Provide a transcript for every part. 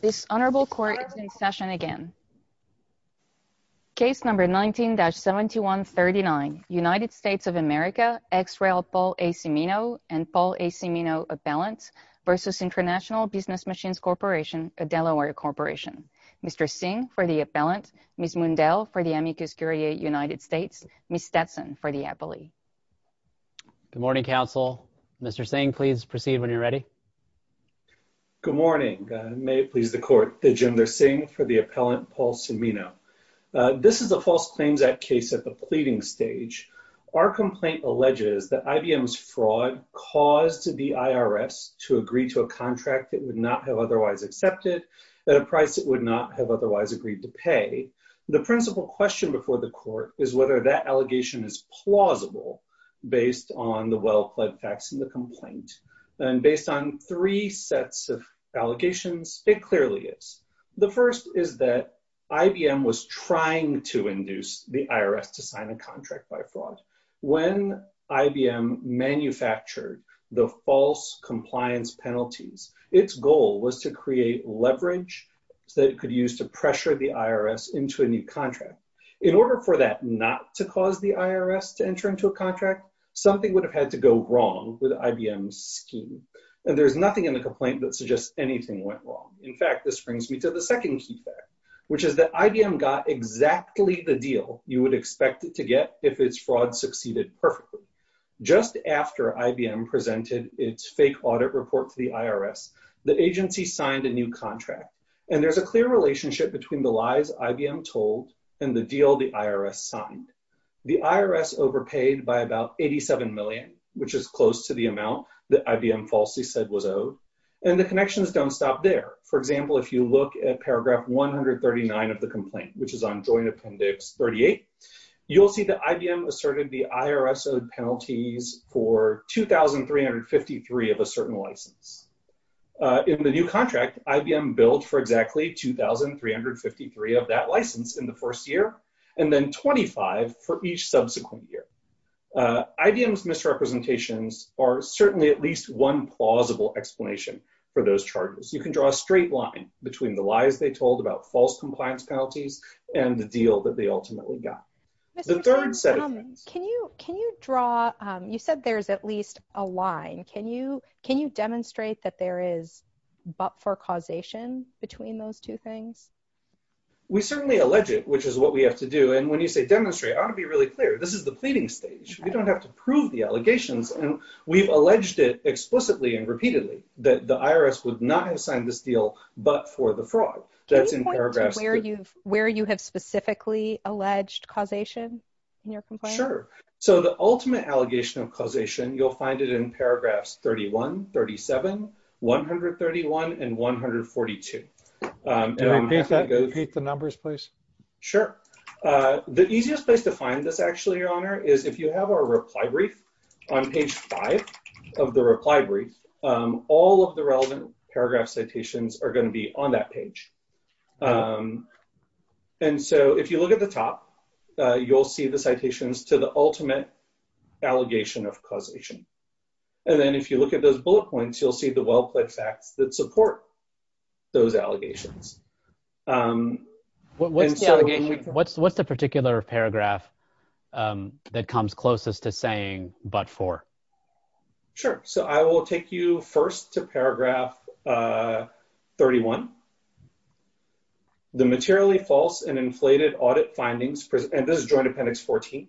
This honorable court is in session again. Case number 19-7139, United States of America, ex-rail Paul A. Cimino and Paul A. Cimino Appellant v. International Business Machines Corporation, a Delaware corporation. Mr. Singh for the appellant, Ms. Mundell for the Amicus Curiae United States, Ms. Stetson for the appellee. Good morning, counsel. Mr. Singh, please proceed when you're ready. Good morning. May it please the court that Jim Lersing for the appellant, Paul Cimino. This is a False Claims Act case at the pleading stage. Our complaint alleges that IBM's fraud caused the IRS to agree to a contract it would not have otherwise accepted at a price it would not have otherwise agreed to pay. The principal question before the court is whether that allegation is plausible based on the well based on three sets of allegations. It clearly is. The first is that IBM was trying to induce the IRS to sign a contract by fraud. When IBM manufactured the false compliance penalties, its goal was to create leverage that it could use to pressure the IRS into a new contract. In order for that not to cause the IRS to enter into a contract, something would have had to go wrong with IBM's scheme. And there's nothing in the complaint that suggests anything went wrong. In fact, this brings me to the second key fact, which is that IBM got exactly the deal you would expect it to get if its fraud succeeded perfectly. Just after IBM presented its fake audit report to the IRS, the agency signed a new contract. And there's a clear relationship between the lies IBM told and the deal the IRS signed. The IRS overpaid by about 87 million, which is close to the amount that IBM falsely said was owed. And the connections don't stop there. For example, if you look at paragraph 139 of the complaint, which is on Joint Appendix 38, you'll see that IBM asserted the IRS owed penalties for 2,353 of a certain license. In the new contract, IBM billed for exactly 2,353 of that license in the first year, and then 25 for each subsequent year. IBM's misrepresentations are certainly at least one plausible explanation for those charges. You can draw a straight line between the lies they told about false compliance penalties and the deal that they ultimately got. The third set of things... Can you draw... You said there's at least a line. Can you demonstrate that there is but for causation between those two things? We certainly allege it, which is what we have to do. And when you say demonstrate, I want to be really clear. This is the pleading stage. We don't have to prove the allegations. And we've alleged it explicitly and repeatedly that the IRS would not have signed this deal, but for the fraud. That's in paragraphs... Can you point to where you have specifically alleged causation in your complaint? Sure. So the ultimate allegation of causation, you'll find it in paragraphs 31, 37, 131, and 142. Can you repeat the numbers, please? Sure. The easiest place to find this actually, Your Honor, is if you have our reply brief on page five of the reply brief, all of the relevant paragraph citations are going to be on that page. And so if you look at the top, you'll see the citations to the ultimate allegation of causation. And then if you look at those bullet points, you'll see the well-placed facts that support those allegations. What's the particular paragraph that comes closest to saying, but for? Sure. So I will take you first to paragraph 31. The materially false and inflated audit findings... And this is Joint Appendix 14.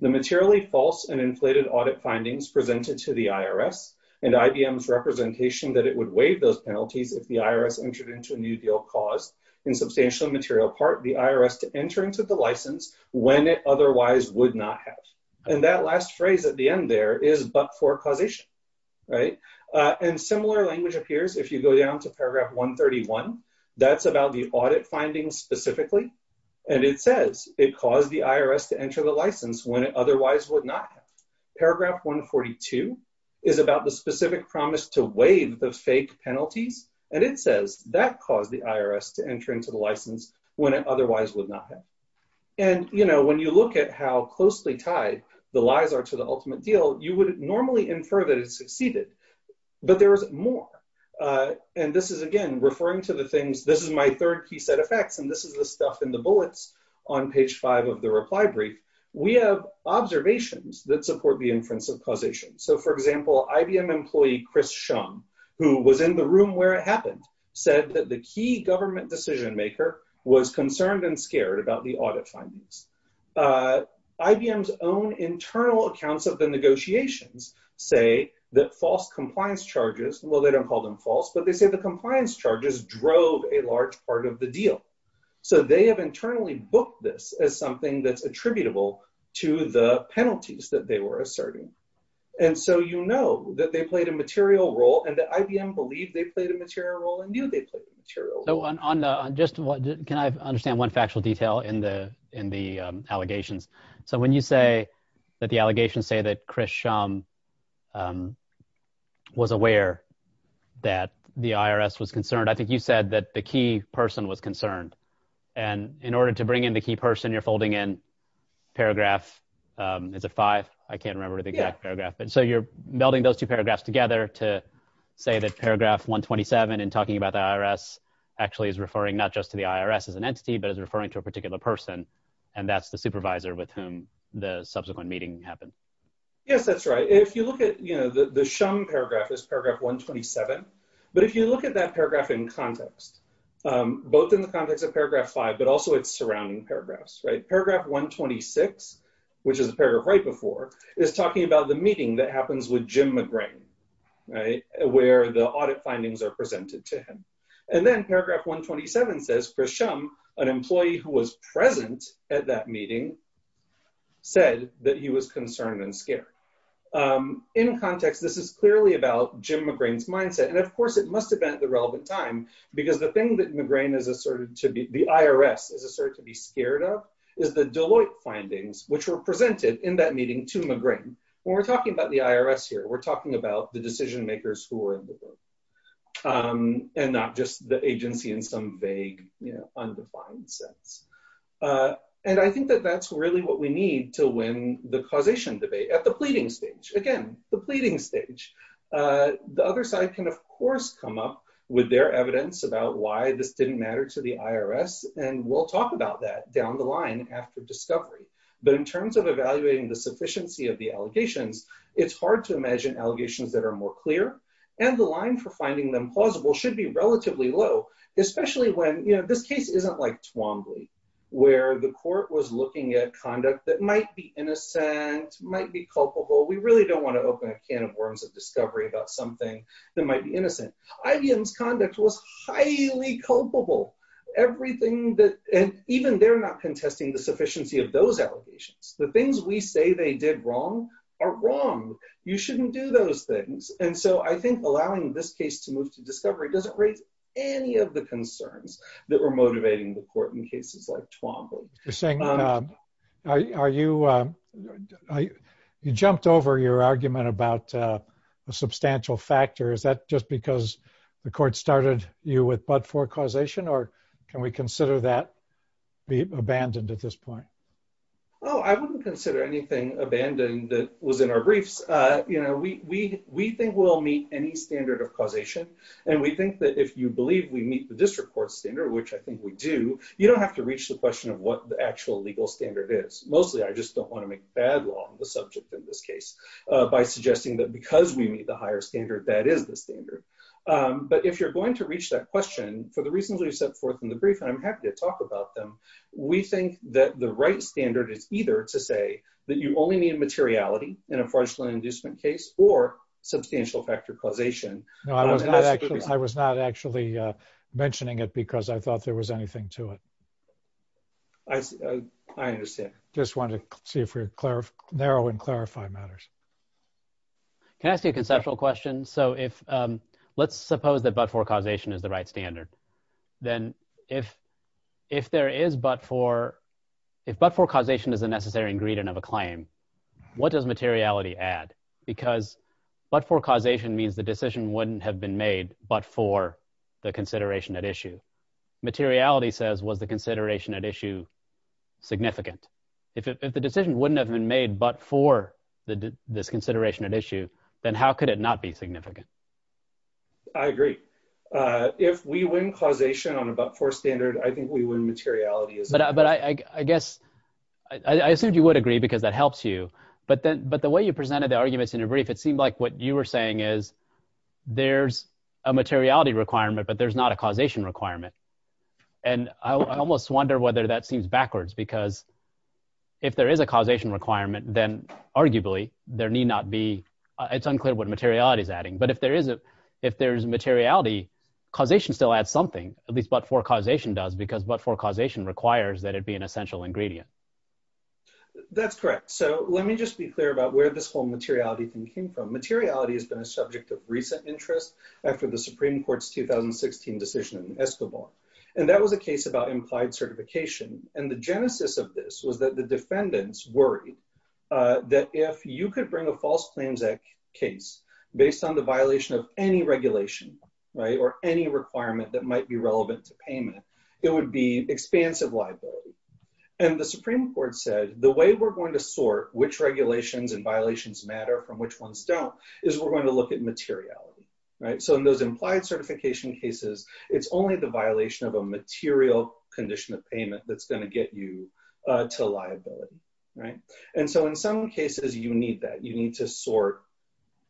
The materially false and inflated audit findings presented to the IRS and IBM's representation that it would waive those penalties if the IRS entered into a new deal caused, in substantial and material part, the IRS to enter into the license when it otherwise would not have. And that last phrase at the end there is, but for causation. And similar language appears if you go down to paragraph 131. That's about the audit findings specifically. And it says it caused the IRS to enter the license when it otherwise would not have. Paragraph 142 is about the specific promise to waive the fake penalties. And it says that caused the IRS to enter into the license when it otherwise would not have. And when you look at how closely tied the lies are to the ultimate deal, you would normally infer that it succeeded, but there is more. And this is, again, referring to the things... This is my third key set of facts, and this is the stuff in the bullets on page five of the reply brief. We have observations that support the inference of causation. So for example, IBM employee Chris Shum, who was in the room where it happened, said that the key government decision maker was concerned and scared about the audit findings. IBM's own internal accounts of the negotiations say that false compliance charges... Well, they don't call them false, but they say the compliance charges drove a large part of the deal. So they have internally booked this as something that's attributable to the penalties that they were asserting. And so you know that they played a material role and that IBM believed they played a material role and knew they played a material role. Can I understand one factual detail in the allegations? So when you say that the allegations say that Chris Shum was aware that the IRS was concerned, I think you said that the key person was concerned. And in order to bring in the key person, you're folding in paragraph... Is it five? I can't remember the exact paragraph. And so you're melding those two paragraphs together to say that paragraph 127 in talking about the IRS actually is referring not just to the IRS as an entity, but it's referring to a particular person. And that's the supervisor with whom the subsequent meeting happened. Yes, that's right. If you look at... The Shum paragraph is paragraph 127. But if you look at that paragraph in context, both in the context of paragraph five, but also its surrounding paragraphs, right? Paragraph 126, which is the paragraph right before, is talking about the meeting that happens with Jim McGrane, right? Where the audit findings are presented to him. And then paragraph 127 says Chris Shum, an employee who was present at that meeting, said that he was concerned and scared. In context, this is clearly about Jim McGrane's mindset. And of course, it must have been at the relevant time, because the thing that McGrane is asserted to be, the IRS is asserted to be scared of, is the Deloitte findings, which were presented in that meeting to McGrane. When we're talking about the IRS here, we're talking about the decision makers who are in the room, and not just the agency in some vague, undefined sense. And I think that that's really what we need to win the causation debate at the pleading stage. Again, the pleading come up with their evidence about why this didn't matter to the IRS, and we'll talk about that down the line after discovery. But in terms of evaluating the sufficiency of the allegations, it's hard to imagine allegations that are more clear, and the line for finding them plausible should be relatively low, especially when, you know, this case isn't like Twombly, where the court was looking at conduct that might be innocent, might be culpable. We really don't want to open a can of worms at discovery about something that might be innocent. IBM's conduct was highly culpable. Everything that, and even they're not contesting the sufficiency of those allegations. The things we say they did wrong, are wrong. You shouldn't do those things. And so I think allowing this case to move to discovery doesn't raise any of the concerns that were motivating the court in cases like Twombly. You're saying, are you, you jumped over your argument about a substantial factor? Is that just because the court started you with but-for causation, or can we consider that abandoned at this point? Oh, I wouldn't consider anything abandoned that was in our briefs. You know, we think we'll meet any standard of causation, and we think that if you believe we meet the district court standard, which I think we do, you don't have to reach the question of what the actual legal standard is. Mostly, I just don't want to make bad law the subject of this case, by suggesting that because we meet the higher standard, that is the standard. But if you're going to reach that question, for the reasons we've set forth in the brief, and I'm happy to talk about them, we think that the right standard is either to say that you only need materiality in a fraudulent inducement case, or substantial factor causation. No, I was not actually mentioning it because I thought there was anything to it. I understand. Just wanted to see if we could narrow and clarify matters. Can I ask you a conceptual question? So let's suppose that but-for causation is the right standard. Then if but-for causation is a necessary ingredient of a claim, what does materiality add? Because but-for causation means the decision wouldn't have been made but for the consideration at issue. Materiality says, was the consideration at issue significant? If the decision wouldn't have been made but for this consideration at issue, then how could it not be significant? I agree. If we win causation on a but-for standard, I think we win materiality. But I guess, I assumed you would agree because that helps you. But the way you presented the arguments in your brief, it seemed like what you were saying is there's a materiality requirement but there's not a causation requirement. And I almost wonder whether that seems backwards because if there is a causation requirement, then arguably there need not be, it's unclear what materiality is adding. But if there is a, if there's materiality, causation still adds something, at least but-for causation does, because but-for causation requires that it be an essential ingredient. That's correct. So let me just be clear about where this whole materiality thing came from. Materiality has been a subject of recent interest after the Supreme Court's 2016 decision in Escobar. And that was a case about implied certification. And the genesis of this was that the defendants worried that if you could bring a false claims case based on the violation of any regulation, right, or any requirement that might be relevant to payment, it would be expansive liability. And the Supreme Court said, the way we're going to sort which regulations and is we're going to look at materiality, right? So in those implied certification cases, it's only the violation of a material condition of payment that's going to get you to liability, right? And so in some cases you need that, you need to sort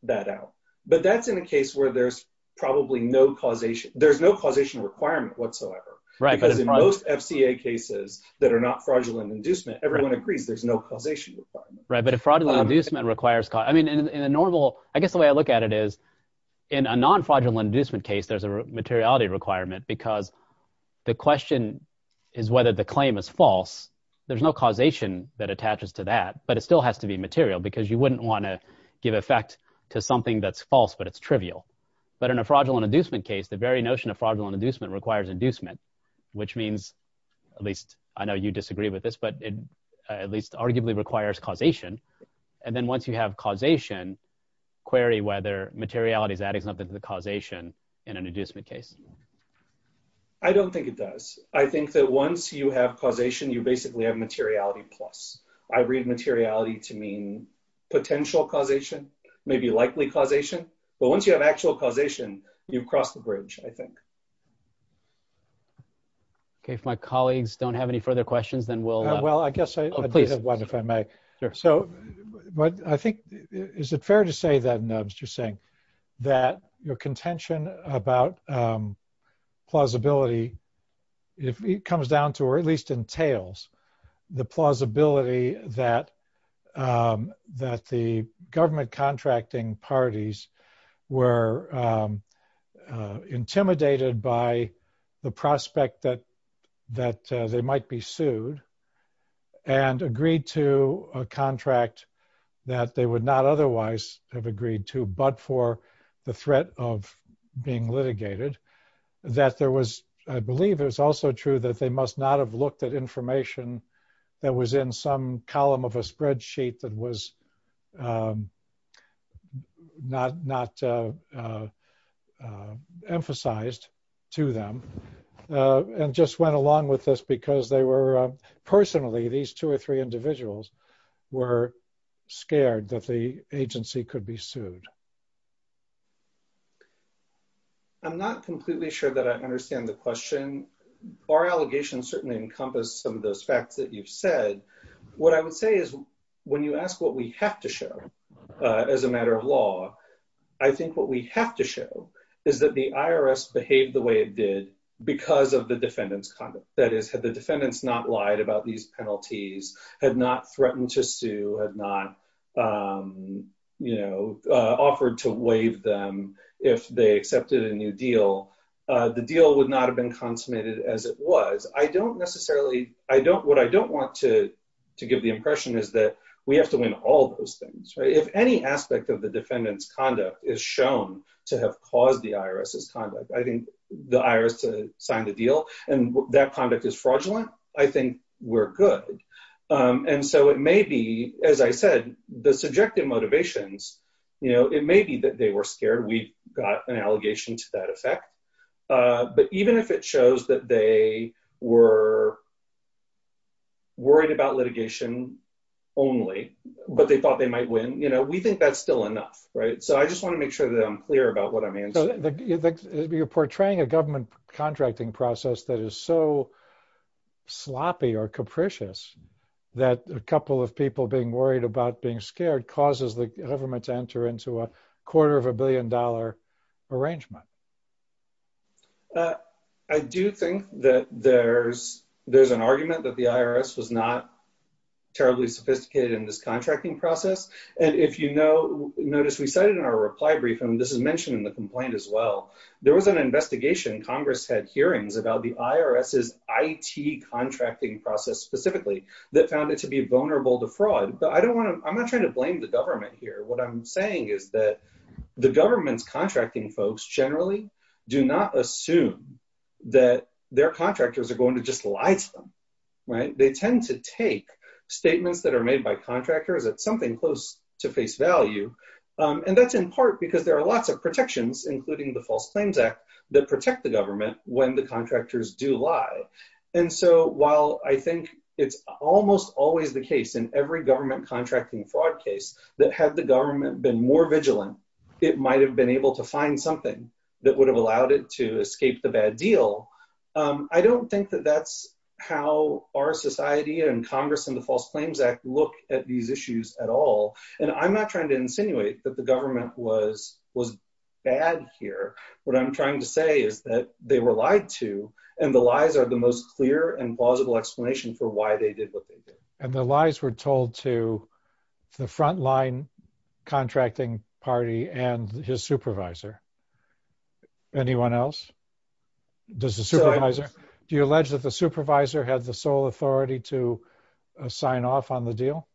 that out. But that's in a case where there's probably no causation, there's no causation requirement whatsoever. Right. Because in most FCA cases that are not fraudulent inducement, everyone agrees there's causation requirement. Right. But if fraudulent inducement requires, I mean, in a normal, I guess the way I look at it is in a non-fraudulent inducement case, there's a materiality requirement because the question is whether the claim is false. There's no causation that attaches to that, but it still has to be material because you wouldn't want to give effect to something that's false, but it's trivial. But in a fraudulent inducement case, the very notion of fraudulent inducement requires inducement, which means, at least I know you disagree with this, but at least arguably requires causation. And then once you have causation, query whether materiality is adding something to the causation in an inducement case. I don't think it does. I think that once you have causation, you basically have materiality plus. I read materiality to mean potential causation, maybe likely causation. But once you have actual causation, you've crossed the bridge, I think. Okay. If my colleagues don't have any further questions, then we'll- Well, I guess I do have one, if I may. Sure. But I think, is it fair to say that, Nubs, you're saying that your contention about plausibility, it comes down to, or at least entails the plausibility that the government contracting parties were intimidated by the prospect that they might be sued and agreed to a contract that they would not otherwise have agreed to, but for the threat of being litigated, that there was, I believe it was also true that they must not have looked at information that was in some column of a program and just went along with this because they were, personally, these two or three individuals were scared that the agency could be sued. I'm not completely sure that I understand the question. Our allegations certainly encompass some of those facts that you've said. What I would say is, when you ask what we have to show because of the defendant's conduct, that is, had the defendants not lied about these penalties, had not threatened to sue, had not offered to waive them if they accepted a new deal, the deal would not have been consummated as it was. What I don't want to give the impression is that we have to win all those things. If any aspect of the defendant's conduct is shown to have caused the IRS's conduct, I think the IRS to sign the deal, and that conduct is fraudulent, I think we're good. It may be, as I said, the subjective motivations, it may be that they were scared. We've got an allegation to that effect, but even if it shows that they were worried about litigation only, but they thought they might win, we think that's still enough. I just want to make sure that I'm clear about what I mean. You're portraying a government contracting process that is so sloppy or capricious that a couple of people being worried about being scared causes the government to enter into a quarter of a billion dollar arrangement. I do think that there's an argument that the IRS was not terribly sophisticated in this contracting process. If you notice, we cited in our reply brief, and this is mentioned in the complaint as well, there was an investigation. Congress had hearings about the IRS's IT contracting process specifically that found it to be vulnerable to fraud. I'm not trying to blame the government here. What I'm saying is that the government's contracting folks generally do not assume that their contractors are going to just lie to them. They tend to take statements that are made by contractors at something close to face value. That's in part because there are lots of protections, including the False Claims Act, that protect the government when the contractors do lie. While I think it's almost always the case in every government contracting fraud case that had the government been more vigilant, it might have been able to find something that would have allowed it to escape the bad deal. I don't think that that's how our society and Congress and the False Claims Act look at these issues at all. I'm not trying to insinuate that the government was bad here. What I'm trying to say is that they were lied to, and the lies are the most clear and plausible explanation for why they did what they did. And the lies were told to the frontline contracting party and his supervisor. Anyone else? Do you allege that the supervisor had the sole authority to sign off on the deal?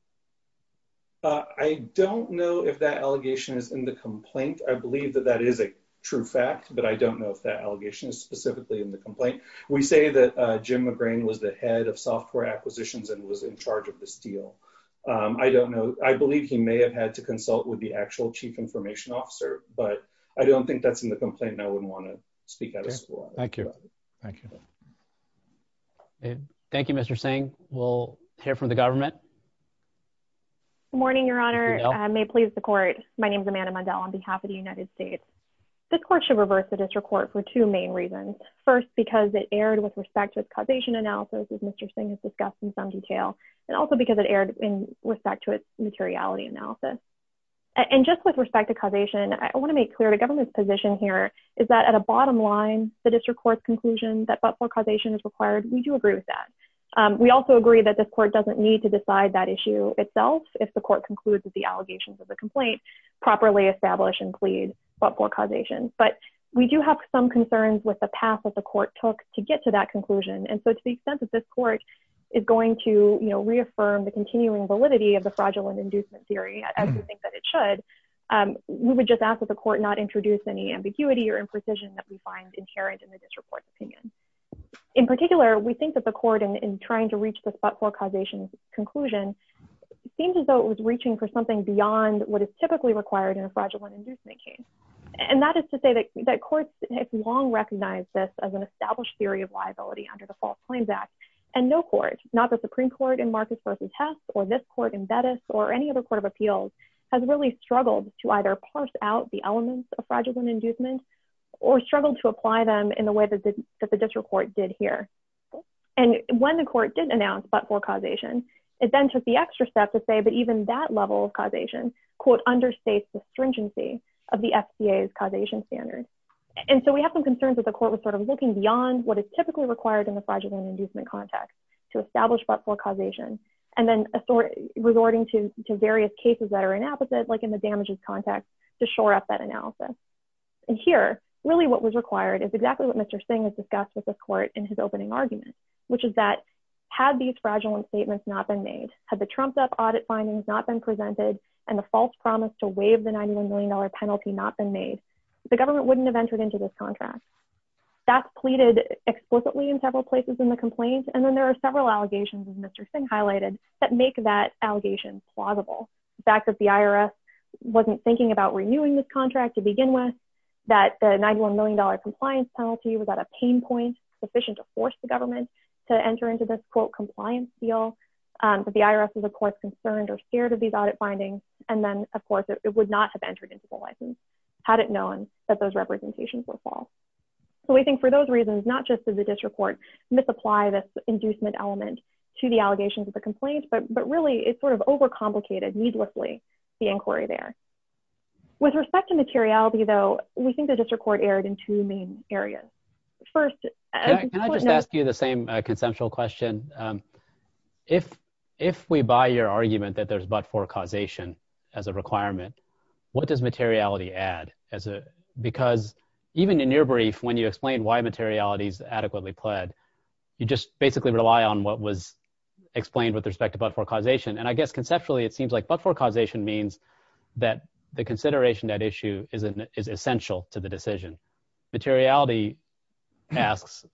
I don't know if that allegation is in the complaint. I believe that that is a true fact, but I don't know if that allegation is specifically in the complaint. We say that Jim McGrane was the head of software acquisitions and was in charge of this deal. I don't know. I believe he may have to consult with the actual chief information officer, but I don't think that's in the complaint, and I wouldn't want to speak out of school. Thank you. Thank you. Thank you, Mr. Singh. We'll hear from the government. Good morning, Your Honor. I may please the court. My name is Amanda Mundell on behalf of the United States. This court should reverse the district court for two main reasons. First, because it erred with respect to its causation analysis, as Mr. Singh has discussed in some detail, and also because it erred in respect to its materiality analysis. And just with respect to causation, I want to make clear the government's position here is that at a bottom line, the district court's conclusion that but-for causation is required, we do agree with that. We also agree that this court doesn't need to decide that issue itself if the court concludes that the allegations of the complaint properly establish and plead but-for causation. But we do have some concerns with the path that the court took to get to that reaffirm the continuing validity of the fraudulent inducement theory as we think that it should. We would just ask that the court not introduce any ambiguity or imprecision that we find inherent in the district court's opinion. In particular, we think that the court in trying to reach the but-for causation conclusion seems as though it was reaching for something beyond what is typically required in a fraudulent inducement case. And that is to say that courts have long recognized this as an established theory of liability under the False Claims Act, and no court, not the Supreme Court in Marcus v. Hess or this court in Bettis or any other court of appeals, has really struggled to either parse out the elements of fraudulent inducement or struggled to apply them in the way that the district court did here. And when the court did announce but-for causation, it then took the extra step to say that even that level of causation, quote, understates the stringency of the FCA's causation standard. And so we have some concerns that the court was sort of looking beyond what is typically required in the fraudulent inducement context to establish but-for causation, and then resorting to various cases that are inapposite, like in the damages context, to shore up that analysis. And here, really what was required is exactly what Mr. Singh has discussed with the court in his opening argument, which is that had these fraudulent statements not been made, had the trumped-up audit findings not been presented, and the false promise to waive the $91 million penalty not been made, the government wouldn't have entered into this contract. That's pleaded explicitly in several places in the complaint, and then there are several allegations, as Mr. Singh highlighted, that make that allegation plausible. The fact that the IRS wasn't thinking about renewing this contract to begin with, that the $91 million compliance penalty was at a pain point sufficient to force the government to enter into this, quote, compliance deal, that the IRS is, of course, concerned or scared of these audit findings, and then, of course, it would not have entered into the license had it known that those representations were false. So we think for those reasons, not just did the district court misapply this inducement element to the allegations of the complaint, but really, it sort of overcomplicated, needlessly, the inquiry there. With respect to materiality, though, we think the district court erred in two main areas. First- Can I just ask you the same conceptual question? If we buy your argument that there's but for causation as a requirement, what does materiality add? Because even in your brief, when you explain why materiality is adequately pled, you just basically rely on what was explained with respect to but for causation. And I guess, conceptually, it seems like but for causation means that the consideration at issue is essential to the decision. Materiality asks,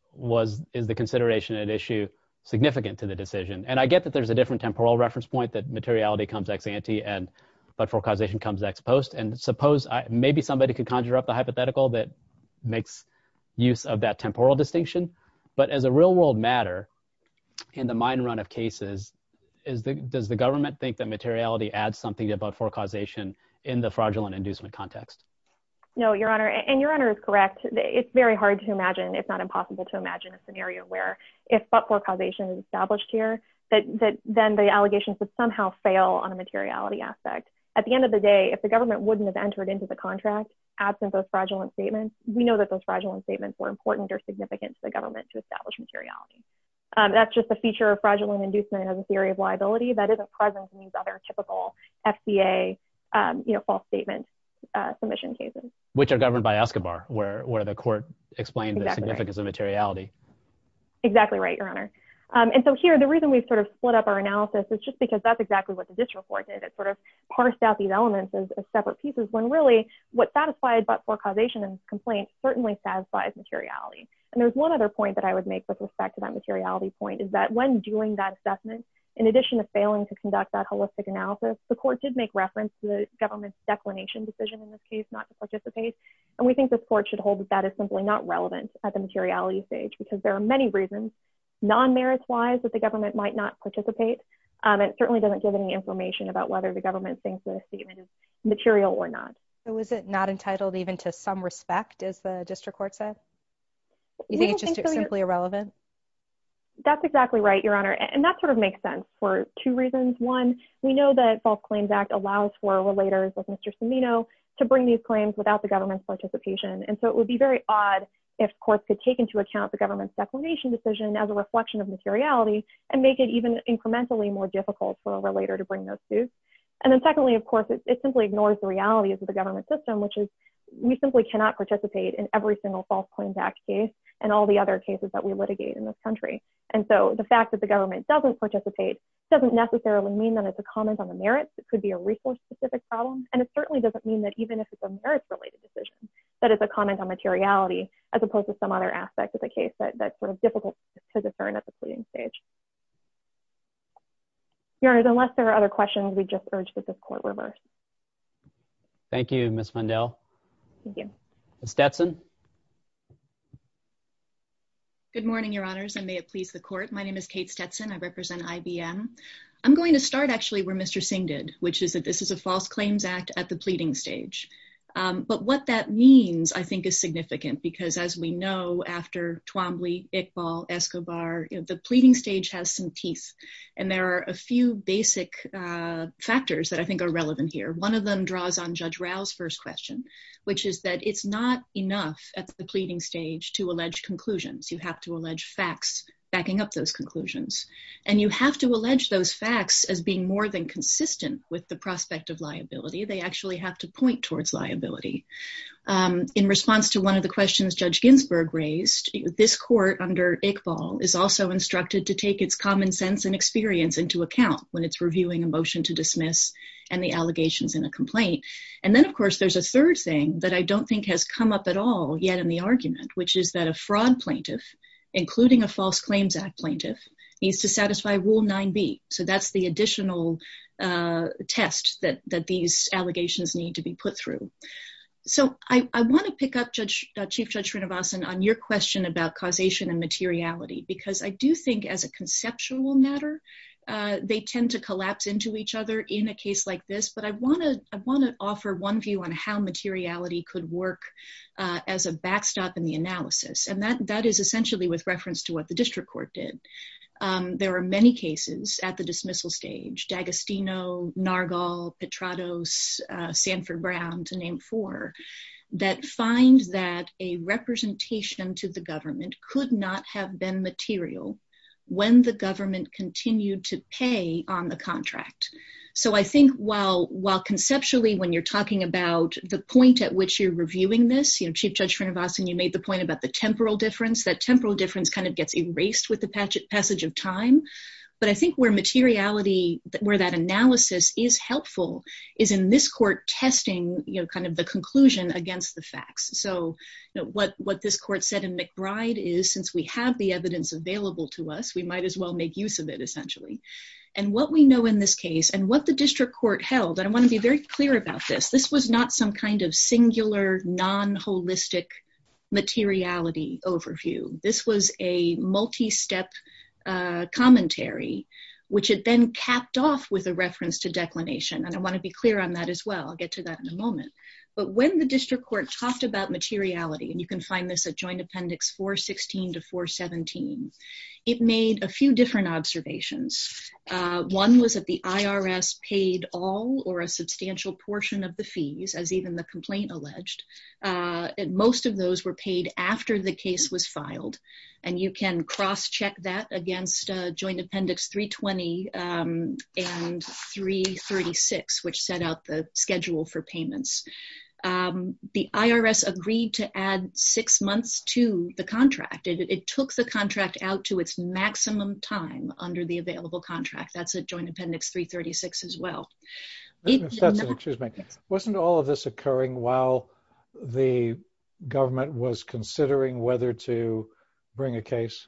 is the consideration at issue significant to the decision? And I get that there's a different temporal reference point that materiality comes ex ante and but for causation comes ex post. And suppose, maybe somebody could conjure up the hypothetical that makes use of that temporal distinction. But as a real-world matter, in the mine run of cases, does the government think that materiality adds something to but for causation in the fraudulent inducement context? No, Your Honor. And Your Honor is correct. It's very hard to imagine, if not impossible, to imagine a scenario where if but for causation is established here, that then the allegations would somehow fail on a materiality aspect. At the end of the day, if the government wouldn't have entered into the contract, absent those fraudulent statements, we know that those fraudulent statements were important or significant to the government to establish materiality. That's just a feature of fraudulent inducement as a theory of liability that isn't present in these other typical FBA false statement submission cases. Which are governed by Escobar, where the court explained the significance of materiality. Exactly right, Your Honor. And so here, the reason we've sort of split up our analysis is just because that's exactly what the district court did. It parsed out these elements as separate pieces, when really, what satisfied but for causation and complaint certainly satisfies materiality. And there's one other point that I would make with respect to that materiality point, is that when doing that assessment, in addition to failing to conduct that holistic analysis, the court did make reference to the government's declination decision in this case, not to participate. And we think this court should hold that that is simply not relevant at the materiality stage. Because there are many reasons, non-merits wise, that the government might not participate. It certainly doesn't give any information about whether the government thinks the statement is material or not. So is it not entitled even to some respect, as the district court said? Is it just simply irrelevant? That's exactly right, Your Honor. And that sort of makes sense for two reasons. One, we know that False Claims Act allows for relators like Mr. Cimino to bring these claims without the government's participation. And so it would be very odd if courts could take into account the government's declination decision as a reflection of materiality, and make it even incrementally more difficult for a relator to participate. And then secondly, of course, it simply ignores the reality of the government system, which is we simply cannot participate in every single False Claims Act case and all the other cases that we litigate in this country. And so the fact that the government doesn't participate doesn't necessarily mean that it's a comment on the merits. It could be a resource-specific problem. And it certainly doesn't mean that even if it's a merits-related decision, that it's a comment on materiality, as opposed to some other aspect of the case that's sort of difficult to discern at the pleading stage. Your Honor, unless there are other questions, we just urge that this court reverse. Thank you, Ms. Mundell. Thank you. Ms. Stetson. Good morning, Your Honors, and may it please the court. My name is Kate Stetson. I represent IBM. I'm going to start actually where Mr. Singh did, which is that this is a False Claims Act at the pleading stage. But what that means, I think, is significant, because as we know, after Twombly, Iqbal, Escobar, the pleading stage has some teeth. And there are a few basic factors that I think are relevant here. One of them draws on Judge Rao's first question, which is that it's not enough at the pleading stage to allege conclusions. You have to allege facts backing up those conclusions. And you have to allege those facts as being more than consistent with the prospect of liability. They actually have to point towards liability. In response to one of the questions Judge Ginsburg raised, this court under Iqbal is also instructed to take its common sense and experience into account when it's reviewing a motion to dismiss and the allegations in a complaint. And then, of course, there's a third thing that I don't think has come up at all yet in the argument, which is that a fraud plaintiff, including a False Claims Act plaintiff, needs to satisfy Rule 9b. So that's the additional test that these allegations need to be put through. So I want to pick up Chief Judge Srinivasan on your question about causation and materiality, because I do think as a conceptual matter, they tend to collapse into each other in a case like this. But I want to offer one view on how materiality could work as a backstop in the analysis. And that is essentially with reference to what the district court did. There are many cases at the dismissal stage, D'Agostino, Nargol, Petrados, Sanford Brown, to name four, that find that a representation to the government could not have been material when the government continued to pay on the contract. So I think while conceptually when you're talking about the point at which you're reviewing this, Chief Judge Srinivasan, you made the point about the temporal difference. That temporal difference gets erased with the passage of time. But I think where materiality, where that analysis is helpful, is in this court testing the conclusion against the facts. So what this court said in McBride is, since we have the evidence available to us, we might as well make use of it, essentially. And what we know in this case, and what the district court held, and I want to be very clear about this, this was not some kind of singular, non-holistic materiality overview. This was a multi-step commentary, which had been capped off with a reference to declination, and I want to be clear on that as well. I'll get to that in a moment. But when the district court talked about materiality, and you can find this at joint appendix 416 to 417, it made a few different observations. One was that the IRS paid all or a substantial portion of the fees, as even the complaint alleged. Most of those were paid after the case was filed. And you can cross-check that against joint appendix 320 and 336, which set out the schedule for payments. The IRS agreed to add six months to the contract. It took the contract out to its maximum time under the while the government was considering whether to bring a case.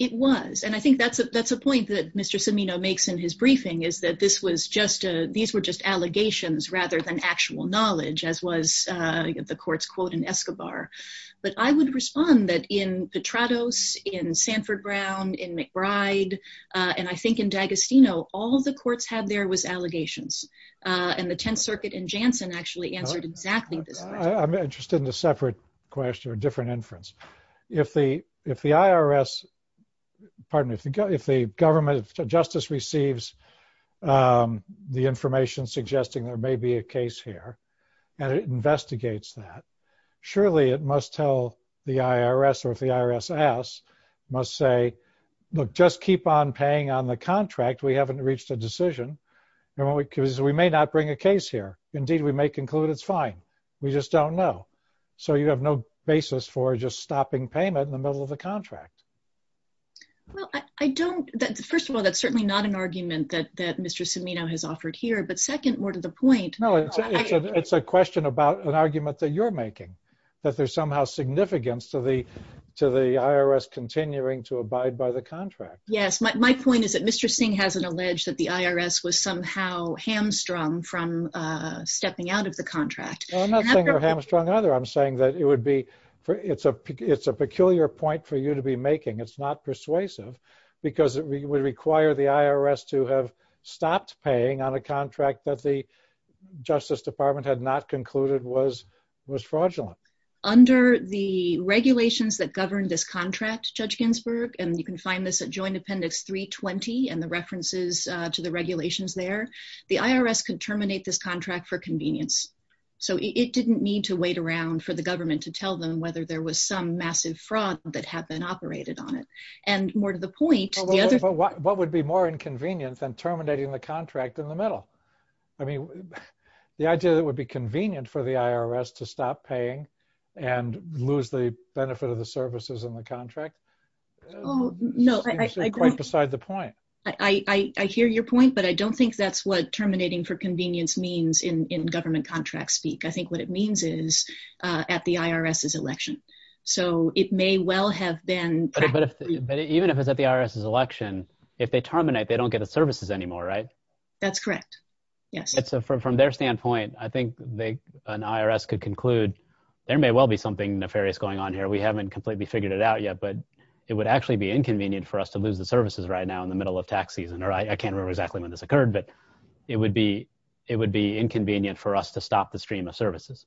It was. And I think that's a point that Mr. Cimino makes in his briefing, is that these were just allegations rather than actual knowledge, as was the court's quote in Escobar. But I would respond that in Petrados, in Sanford Brown, in McBride, and I think in D'Agostino, all the courts had was allegations. And the Tenth Circuit in Janssen actually answered exactly this. I'm interested in a separate question, a different inference. If the IRS, pardon me, if the government, if justice receives the information suggesting there may be a case here, and it investigates that, surely it must tell the IRS, or if the IRS asks, must say, look, just keep on paying on the contract. We haven't reached a decision because we may not bring a case here. Indeed, we may conclude it's fine. We just don't know. So you have no basis for just stopping payment in the middle of the contract. Well, I don't, first of all, that's certainly not an argument that Mr. Cimino has offered here. But second, more to the point. No, it's a question about an argument that you're making, that there's somehow significance to the contract. Yes, my point is that Mr. Singh hasn't alleged that the IRS was somehow hamstrung from stepping out of the contract. Well, I'm not saying they're hamstrung either. I'm saying that it would be, it's a peculiar point for you to be making. It's not persuasive, because it would require the IRS to have stopped paying on a contract that the Justice Department had not concluded was fraudulent. Under the regulations that govern this contract, Judge Ginsburg, and you can find this at Joint Appendix 320 and the references to the regulations there, the IRS could terminate this contract for convenience. So it didn't need to wait around for the government to tell them whether there was some massive fraud that had been operated on it. And more to the point, the other- What would be more inconvenient than terminating the contract in the middle? I mean, the idea that it would be convenient for the IRS to stop paying and lose the benefit of services in the contract seems quite beside the point. I hear your point, but I don't think that's what terminating for convenience means in government contract speak. I think what it means is at the IRS's election. So it may well have been- But even if it's at the IRS's election, if they terminate, they don't get the services anymore, right? That's correct. Yes. And so from their standpoint, I think an IRS could conclude there may well be something nefarious going on here. We haven't completely figured it out yet, but it would actually be inconvenient for us to lose the services right now in the middle of tax season. Or I can't remember exactly when this occurred, but it would be inconvenient for us to stop the stream of services.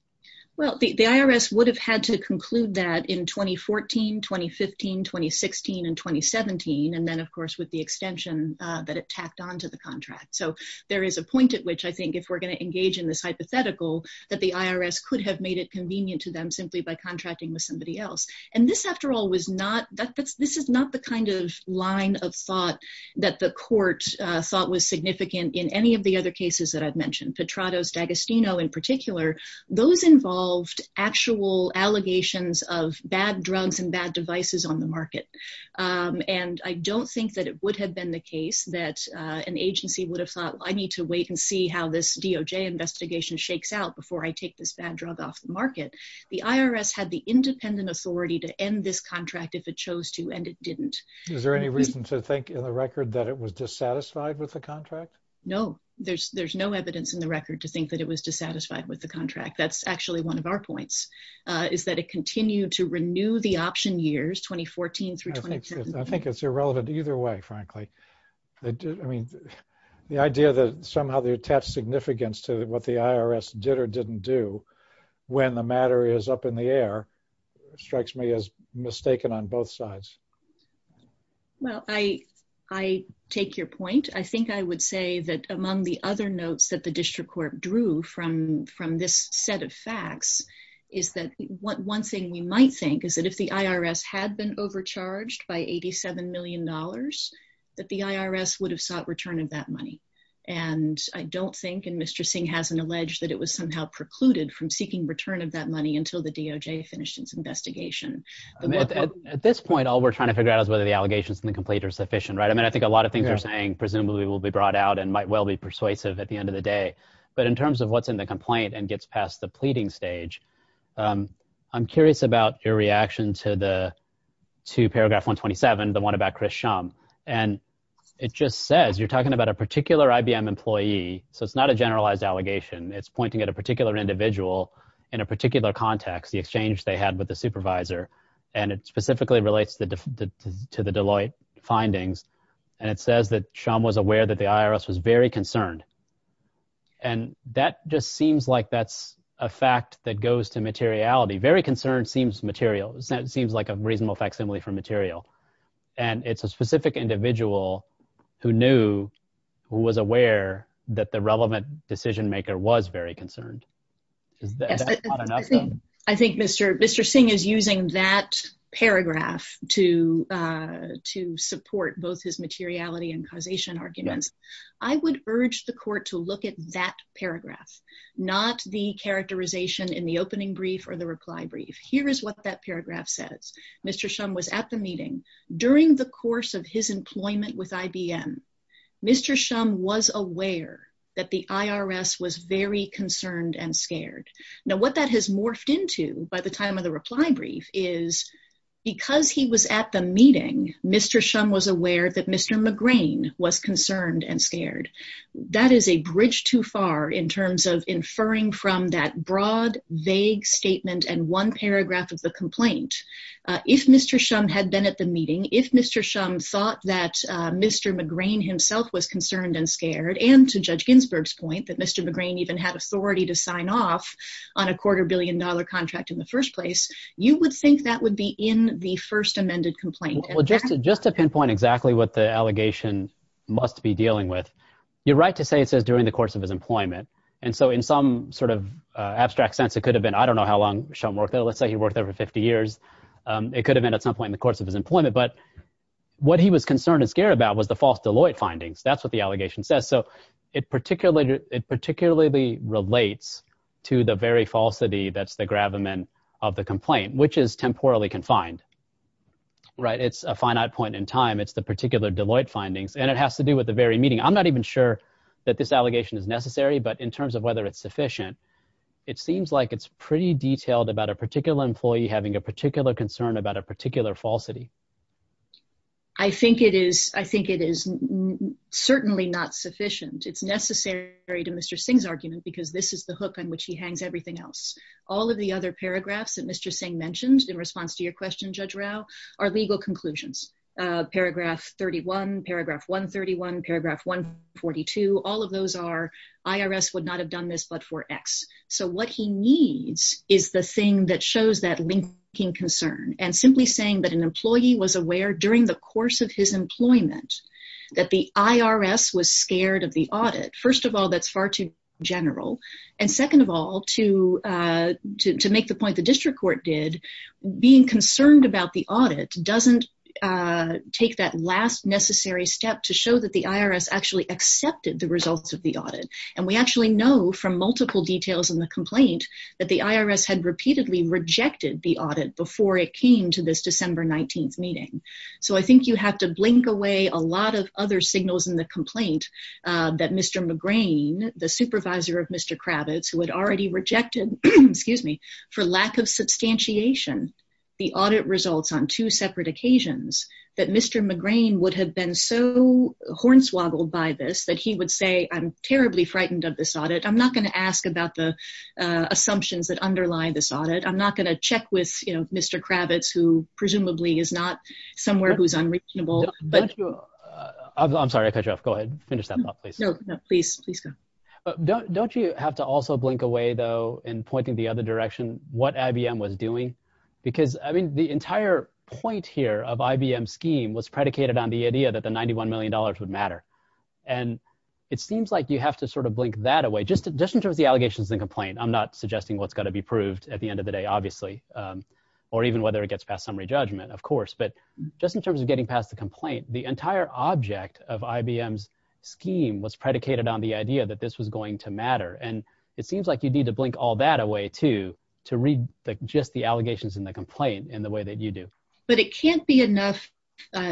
Well, the IRS would have had to conclude that in 2014, 2015, 2016, and 2017. And then, of course, with the extension that it tacked onto the contract. So there is a point at which I think if we're going to engage in this hypothetical, that the IRS could have made it convenient to them simply by contracting with somebody else. And this, after all, this is not the kind of line of thought that the court thought was significant in any of the other cases that I've mentioned. Petrado's, D'Agostino in particular, those involved actual allegations of bad drugs and bad devices on the market. And I don't think that it would have been the case that an agency would have thought, I need to wait and see how this DOJ investigation shakes out before I take this bad drug off the market. The IRS had the independent authority to end this contract if it chose to, and it didn't. Is there any reason to think in the record that it was dissatisfied with the contract? No, there's no evidence in the record to think that it was dissatisfied with the contract. That's actually one of our points, is that it continued to renew the option years 2014 through 2017. I think it's irrelevant either way, frankly. I mean, the idea that they attached significance to what the IRS did or didn't do when the matter is up in the air strikes me as mistaken on both sides. Well, I take your point. I think I would say that among the other notes that the district court drew from this set of facts is that one thing we might think is that if the IRS had been overcharged by $87 million, that the IRS would have sought return of that money. And I don't think, and Mr. Singh hasn't alleged that it was somehow precluded from seeking return of that money until the DOJ finished its investigation. At this point, all we're trying to figure out is whether the allegations in the complaint are sufficient, right? I mean, I think a lot of things you're saying presumably will be brought out and might well be persuasive at the end of the day. But in terms of what's in the complaint and gets past the pleading stage, I'm curious about your reaction to paragraph 127, the one about Chris Shum. And it just says, you're talking about a particular IBM employee. So it's not a generalized allegation. It's pointing at a particular individual in a particular context, the exchange they had with the supervisor. And it specifically relates to the Deloitte findings. And it says that Shum was aware that the IRS was very concerned. And that just seems like that's a fact that goes to materiality. Very concerned seems material. It seems like a reasonable facsimile for material. And it's a specific individual who knew, who was aware that the relevant decision maker was very concerned. I think Mr. Singh is using that paragraph to support both his materiality and causation arguments. I would urge the court to look at that paragraph, not the characterization in the opening brief or the reply brief. Here is what that paragraph says. Mr. Shum was at the during the course of his employment with IBM. Mr. Shum was aware that the IRS was very concerned and scared. Now what that has morphed into by the time of the reply brief is because he was at the meeting, Mr. Shum was aware that Mr. McGrain was concerned and scared. That is a bridge too far in terms of inferring from that broad, vague statement and one paragraph of the complaint. If Mr. Shum had been at the meeting, if Mr. Shum thought that Mr. McGrain himself was concerned and scared and to Judge Ginsburg's point that Mr. McGrain even had authority to sign off on a quarter billion dollar contract in the first place, you would think that would be in the first amended complaint. Well, just to pinpoint exactly what the allegation must be dealing with, you're right to say it says during the course of his employment. And so in some sort of abstract sense, it could have been, I don't know how long Shum worked there. Let's say he worked there for 50 years. It could have been at some point in the course of his employment, but what he was concerned and scared about was the false Deloitte findings. That's what the allegation says. So it particularly relates to the very falsity that's the gravamen of the complaint, which is temporally confined, right? It's a finite point in time. It's the particular Deloitte findings, and it has to do with the very meeting. I'm not even sure that this allegation is necessary, but in terms of it's sufficient, it seems like it's pretty detailed about a particular employee having a particular concern about a particular falsity. I think it is certainly not sufficient. It's necessary to Mr. Singh's argument because this is the hook on which he hangs everything else. All of the other paragraphs that Mr. Singh mentioned in response to your question, Judge Rao, are legal conclusions. Paragraph 31, paragraph 131, paragraph 142, all of those are for X. So what he needs is the thing that shows that linking concern and simply saying that an employee was aware during the course of his employment that the IRS was scared of the audit. First of all, that's far too general, and second of all, to make the point the district court did, being concerned about the audit doesn't take that last necessary step to show that the IRS actually accepted the results of the audit, and we actually know from multiple details in the complaint that the IRS had repeatedly rejected the audit before it came to this December 19th meeting. So I think you have to blink away a lot of other signals in the complaint that Mr. McGrain, the supervisor of Mr. Kravitz, who had already rejected, excuse me, for lack of substantiation, the audit results on two separate occasions, that Mr. McGrain would have been so hornswoggled by this that he would say, I'm terribly frightened of this audit. I'm not going to ask about the assumptions that underlie this audit. I'm not going to check with Mr. Kravitz, who presumably is not somewhere who's unreasonable. I'm sorry, I cut you off. Go ahead, finish that thought, please. No, no, please, please go. Don't you have to also blink away, in pointing the other direction, what IBM was doing? Because I mean, the entire point here of IBM's scheme was predicated on the idea that the $91 million would matter. And it seems like you have to sort of blink that away, just in terms of the allegations in the complaint. I'm not suggesting what's going to be proved at the end of the day, obviously, or even whether it gets past summary judgment, of course. But just in terms of getting past the complaint, the entire object of IBM's scheme was predicated on the idea that this was going to matter. And it seems like you need to blink all that away, too, to read just the allegations in the complaint in the way that you do. But it can't be enough,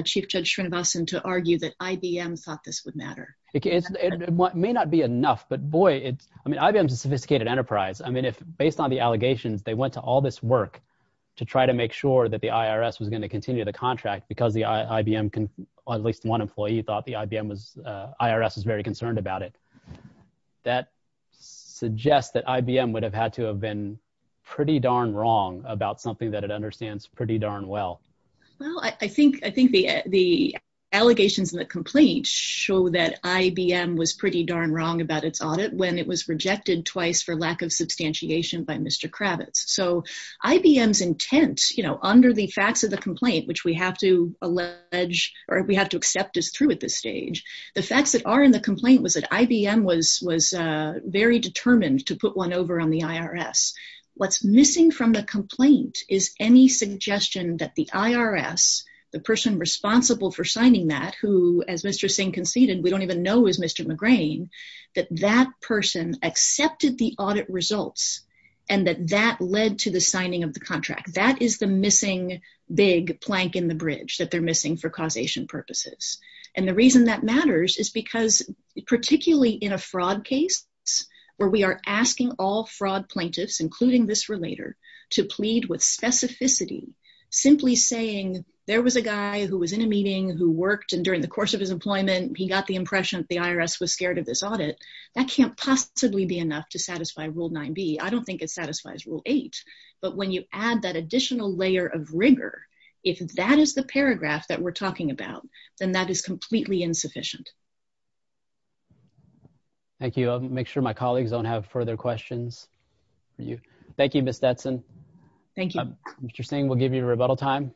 Chief Judge Srinivasan, to argue that IBM thought this would matter. It may not be enough. But boy, it's, I mean, IBM is a sophisticated enterprise. I mean, based on the allegations, they went to all this work to try to make sure that the IRS was going to continue the contract because the IBM, at least one employee thought the IBM was, very concerned about it. That suggests that IBM would have had to have been pretty darn wrong about something that it understands pretty darn well. Well, I think the allegations in the complaint show that IBM was pretty darn wrong about its audit when it was rejected twice for lack of substantiation by Mr. Kravitz. So IBM's intent, you know, under the facts of the complaint, which we have to allege, or we have to accept is through at this stage. The facts that are in the complaint was that IBM was, was very determined to put one over on the IRS. What's missing from the complaint is any suggestion that the IRS, the person responsible for signing that, who, as Mr. Singh conceded, we don't even know is Mr. McGrane, that that person accepted the audit results and that that led to the signing of the contract. That is the missing big plank in the bridge that they're missing for causation purposes. And the reason that matters is because particularly in a fraud case where we are asking all fraud plaintiffs, including this relator, to plead with specificity, simply saying there was a guy who was in a meeting who worked and during the course of his employment, he got the impression that the IRS was scared of this audit. That can't possibly be enough to satisfy rule nine B. I don't think it satisfies rule eight, but when you add that additional layer of rigor, if that is the paragraph that we're talking about, then that is completely insufficient. Thank you. I'll make sure my colleagues don't have further questions for you. Thank you, Ms. Detson. Thank you. Mr. Singh, we'll give you a rebuttal time.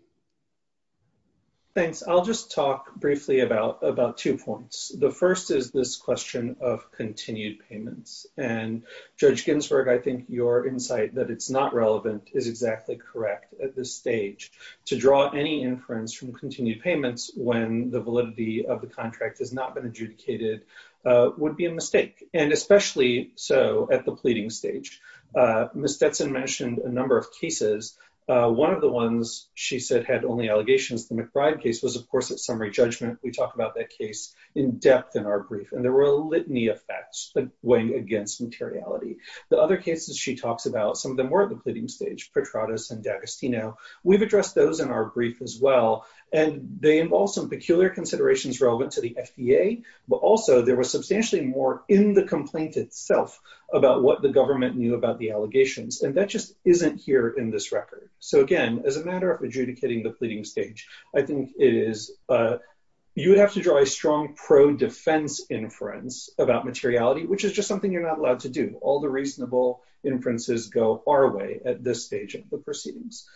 Thanks. I'll just talk briefly about, about two points. The first is this question of continued payments and Judge Ginsburg, I think your insight that it's not relevant is exactly correct at this stage to draw any inference from continued payments when the validity of the contract has not been adjudicated would be a mistake. And especially so at the pleading stage, Ms. Detson mentioned a number of cases. One of the ones she said had only allegations, the McBride case was of course, at summary judgment. We talk about that case in depth in our brief, and there were litany effects weighing against materiality. The other cases she talks about, some of them were at the pleading stage, Petradus and D'Agostino. We've addressed those in our brief as well. And they involve some peculiar considerations relevant to the FDA, but also there was substantially more in the complaint itself about what the government knew about the allegations. And that just isn't here in this record. So again, as a matter of adjudicating the pleading stage, I think it is, you would have to pro-defense inference about materiality, which is just something you're not allowed to do. All the reasonable inferences go our way at this stage of the proceedings.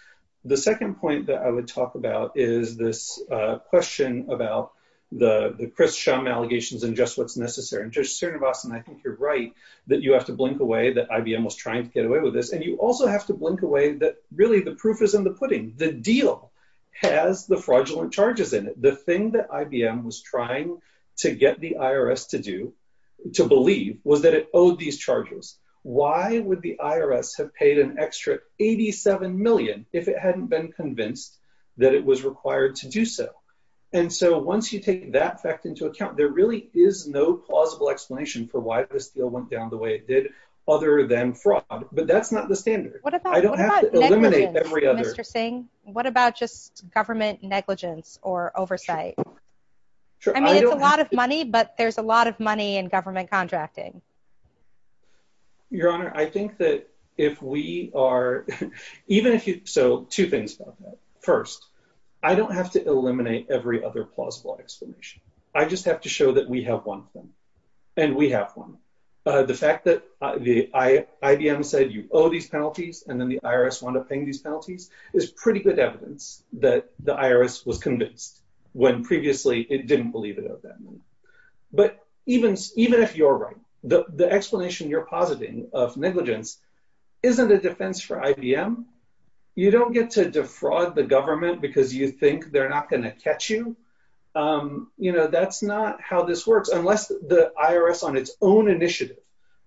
The second point that I would talk about is this question about the Chris Shum allegations and just what's necessary. And Judge Srinivasan, I think you're right that you have to blink away that IBM was trying to get away with this. And you also have to blink away that really the proof is in the pudding. The deal has the fraudulent charges in it. The thing that IBM was trying to get the IRS to do, to believe, was that it owed these charges. Why would the IRS have paid an extra 87 million if it hadn't been convinced that it was required to do so? And so once you take that fact into account, there really is no plausible explanation for why this deal went down the way it did, other than fraud. But that's not the standard. I don't have to eliminate every other plausible explanation. I just have to show that we have one thing, and we have one. The fact that IBM said you owe these penalties and then the IRS wound up paying these penalties is pretty good evidence that the IRS was convinced when previously it didn't believe it at that moment. But even if you're right, the explanation you're positing of negligence isn't a defense for IBM. You don't get to defraud the government because you think they're not going to catch you. You know, that's not how this works. Unless the IRS on its own initiative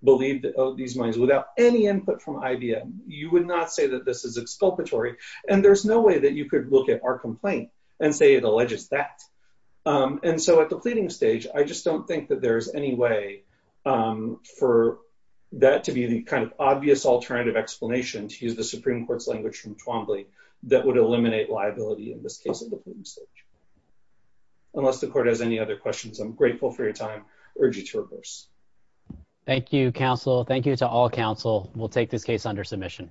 believed that these moneys without any input from IBM, you would not say that this is exculpatory. And there's no way that you could look at our complaint and say it alleges that. And so at the pleading stage, I just don't think that there's any way for that to be the kind of obvious alternative explanation, to use the Supreme Court's language from Twombly, that would eliminate liability in this case at the pleading stage. Unless the court has any other questions, I'm grateful for your time. Urge you to reverse. Thank you, counsel. Thank you to all counsel. We'll take this case under submission.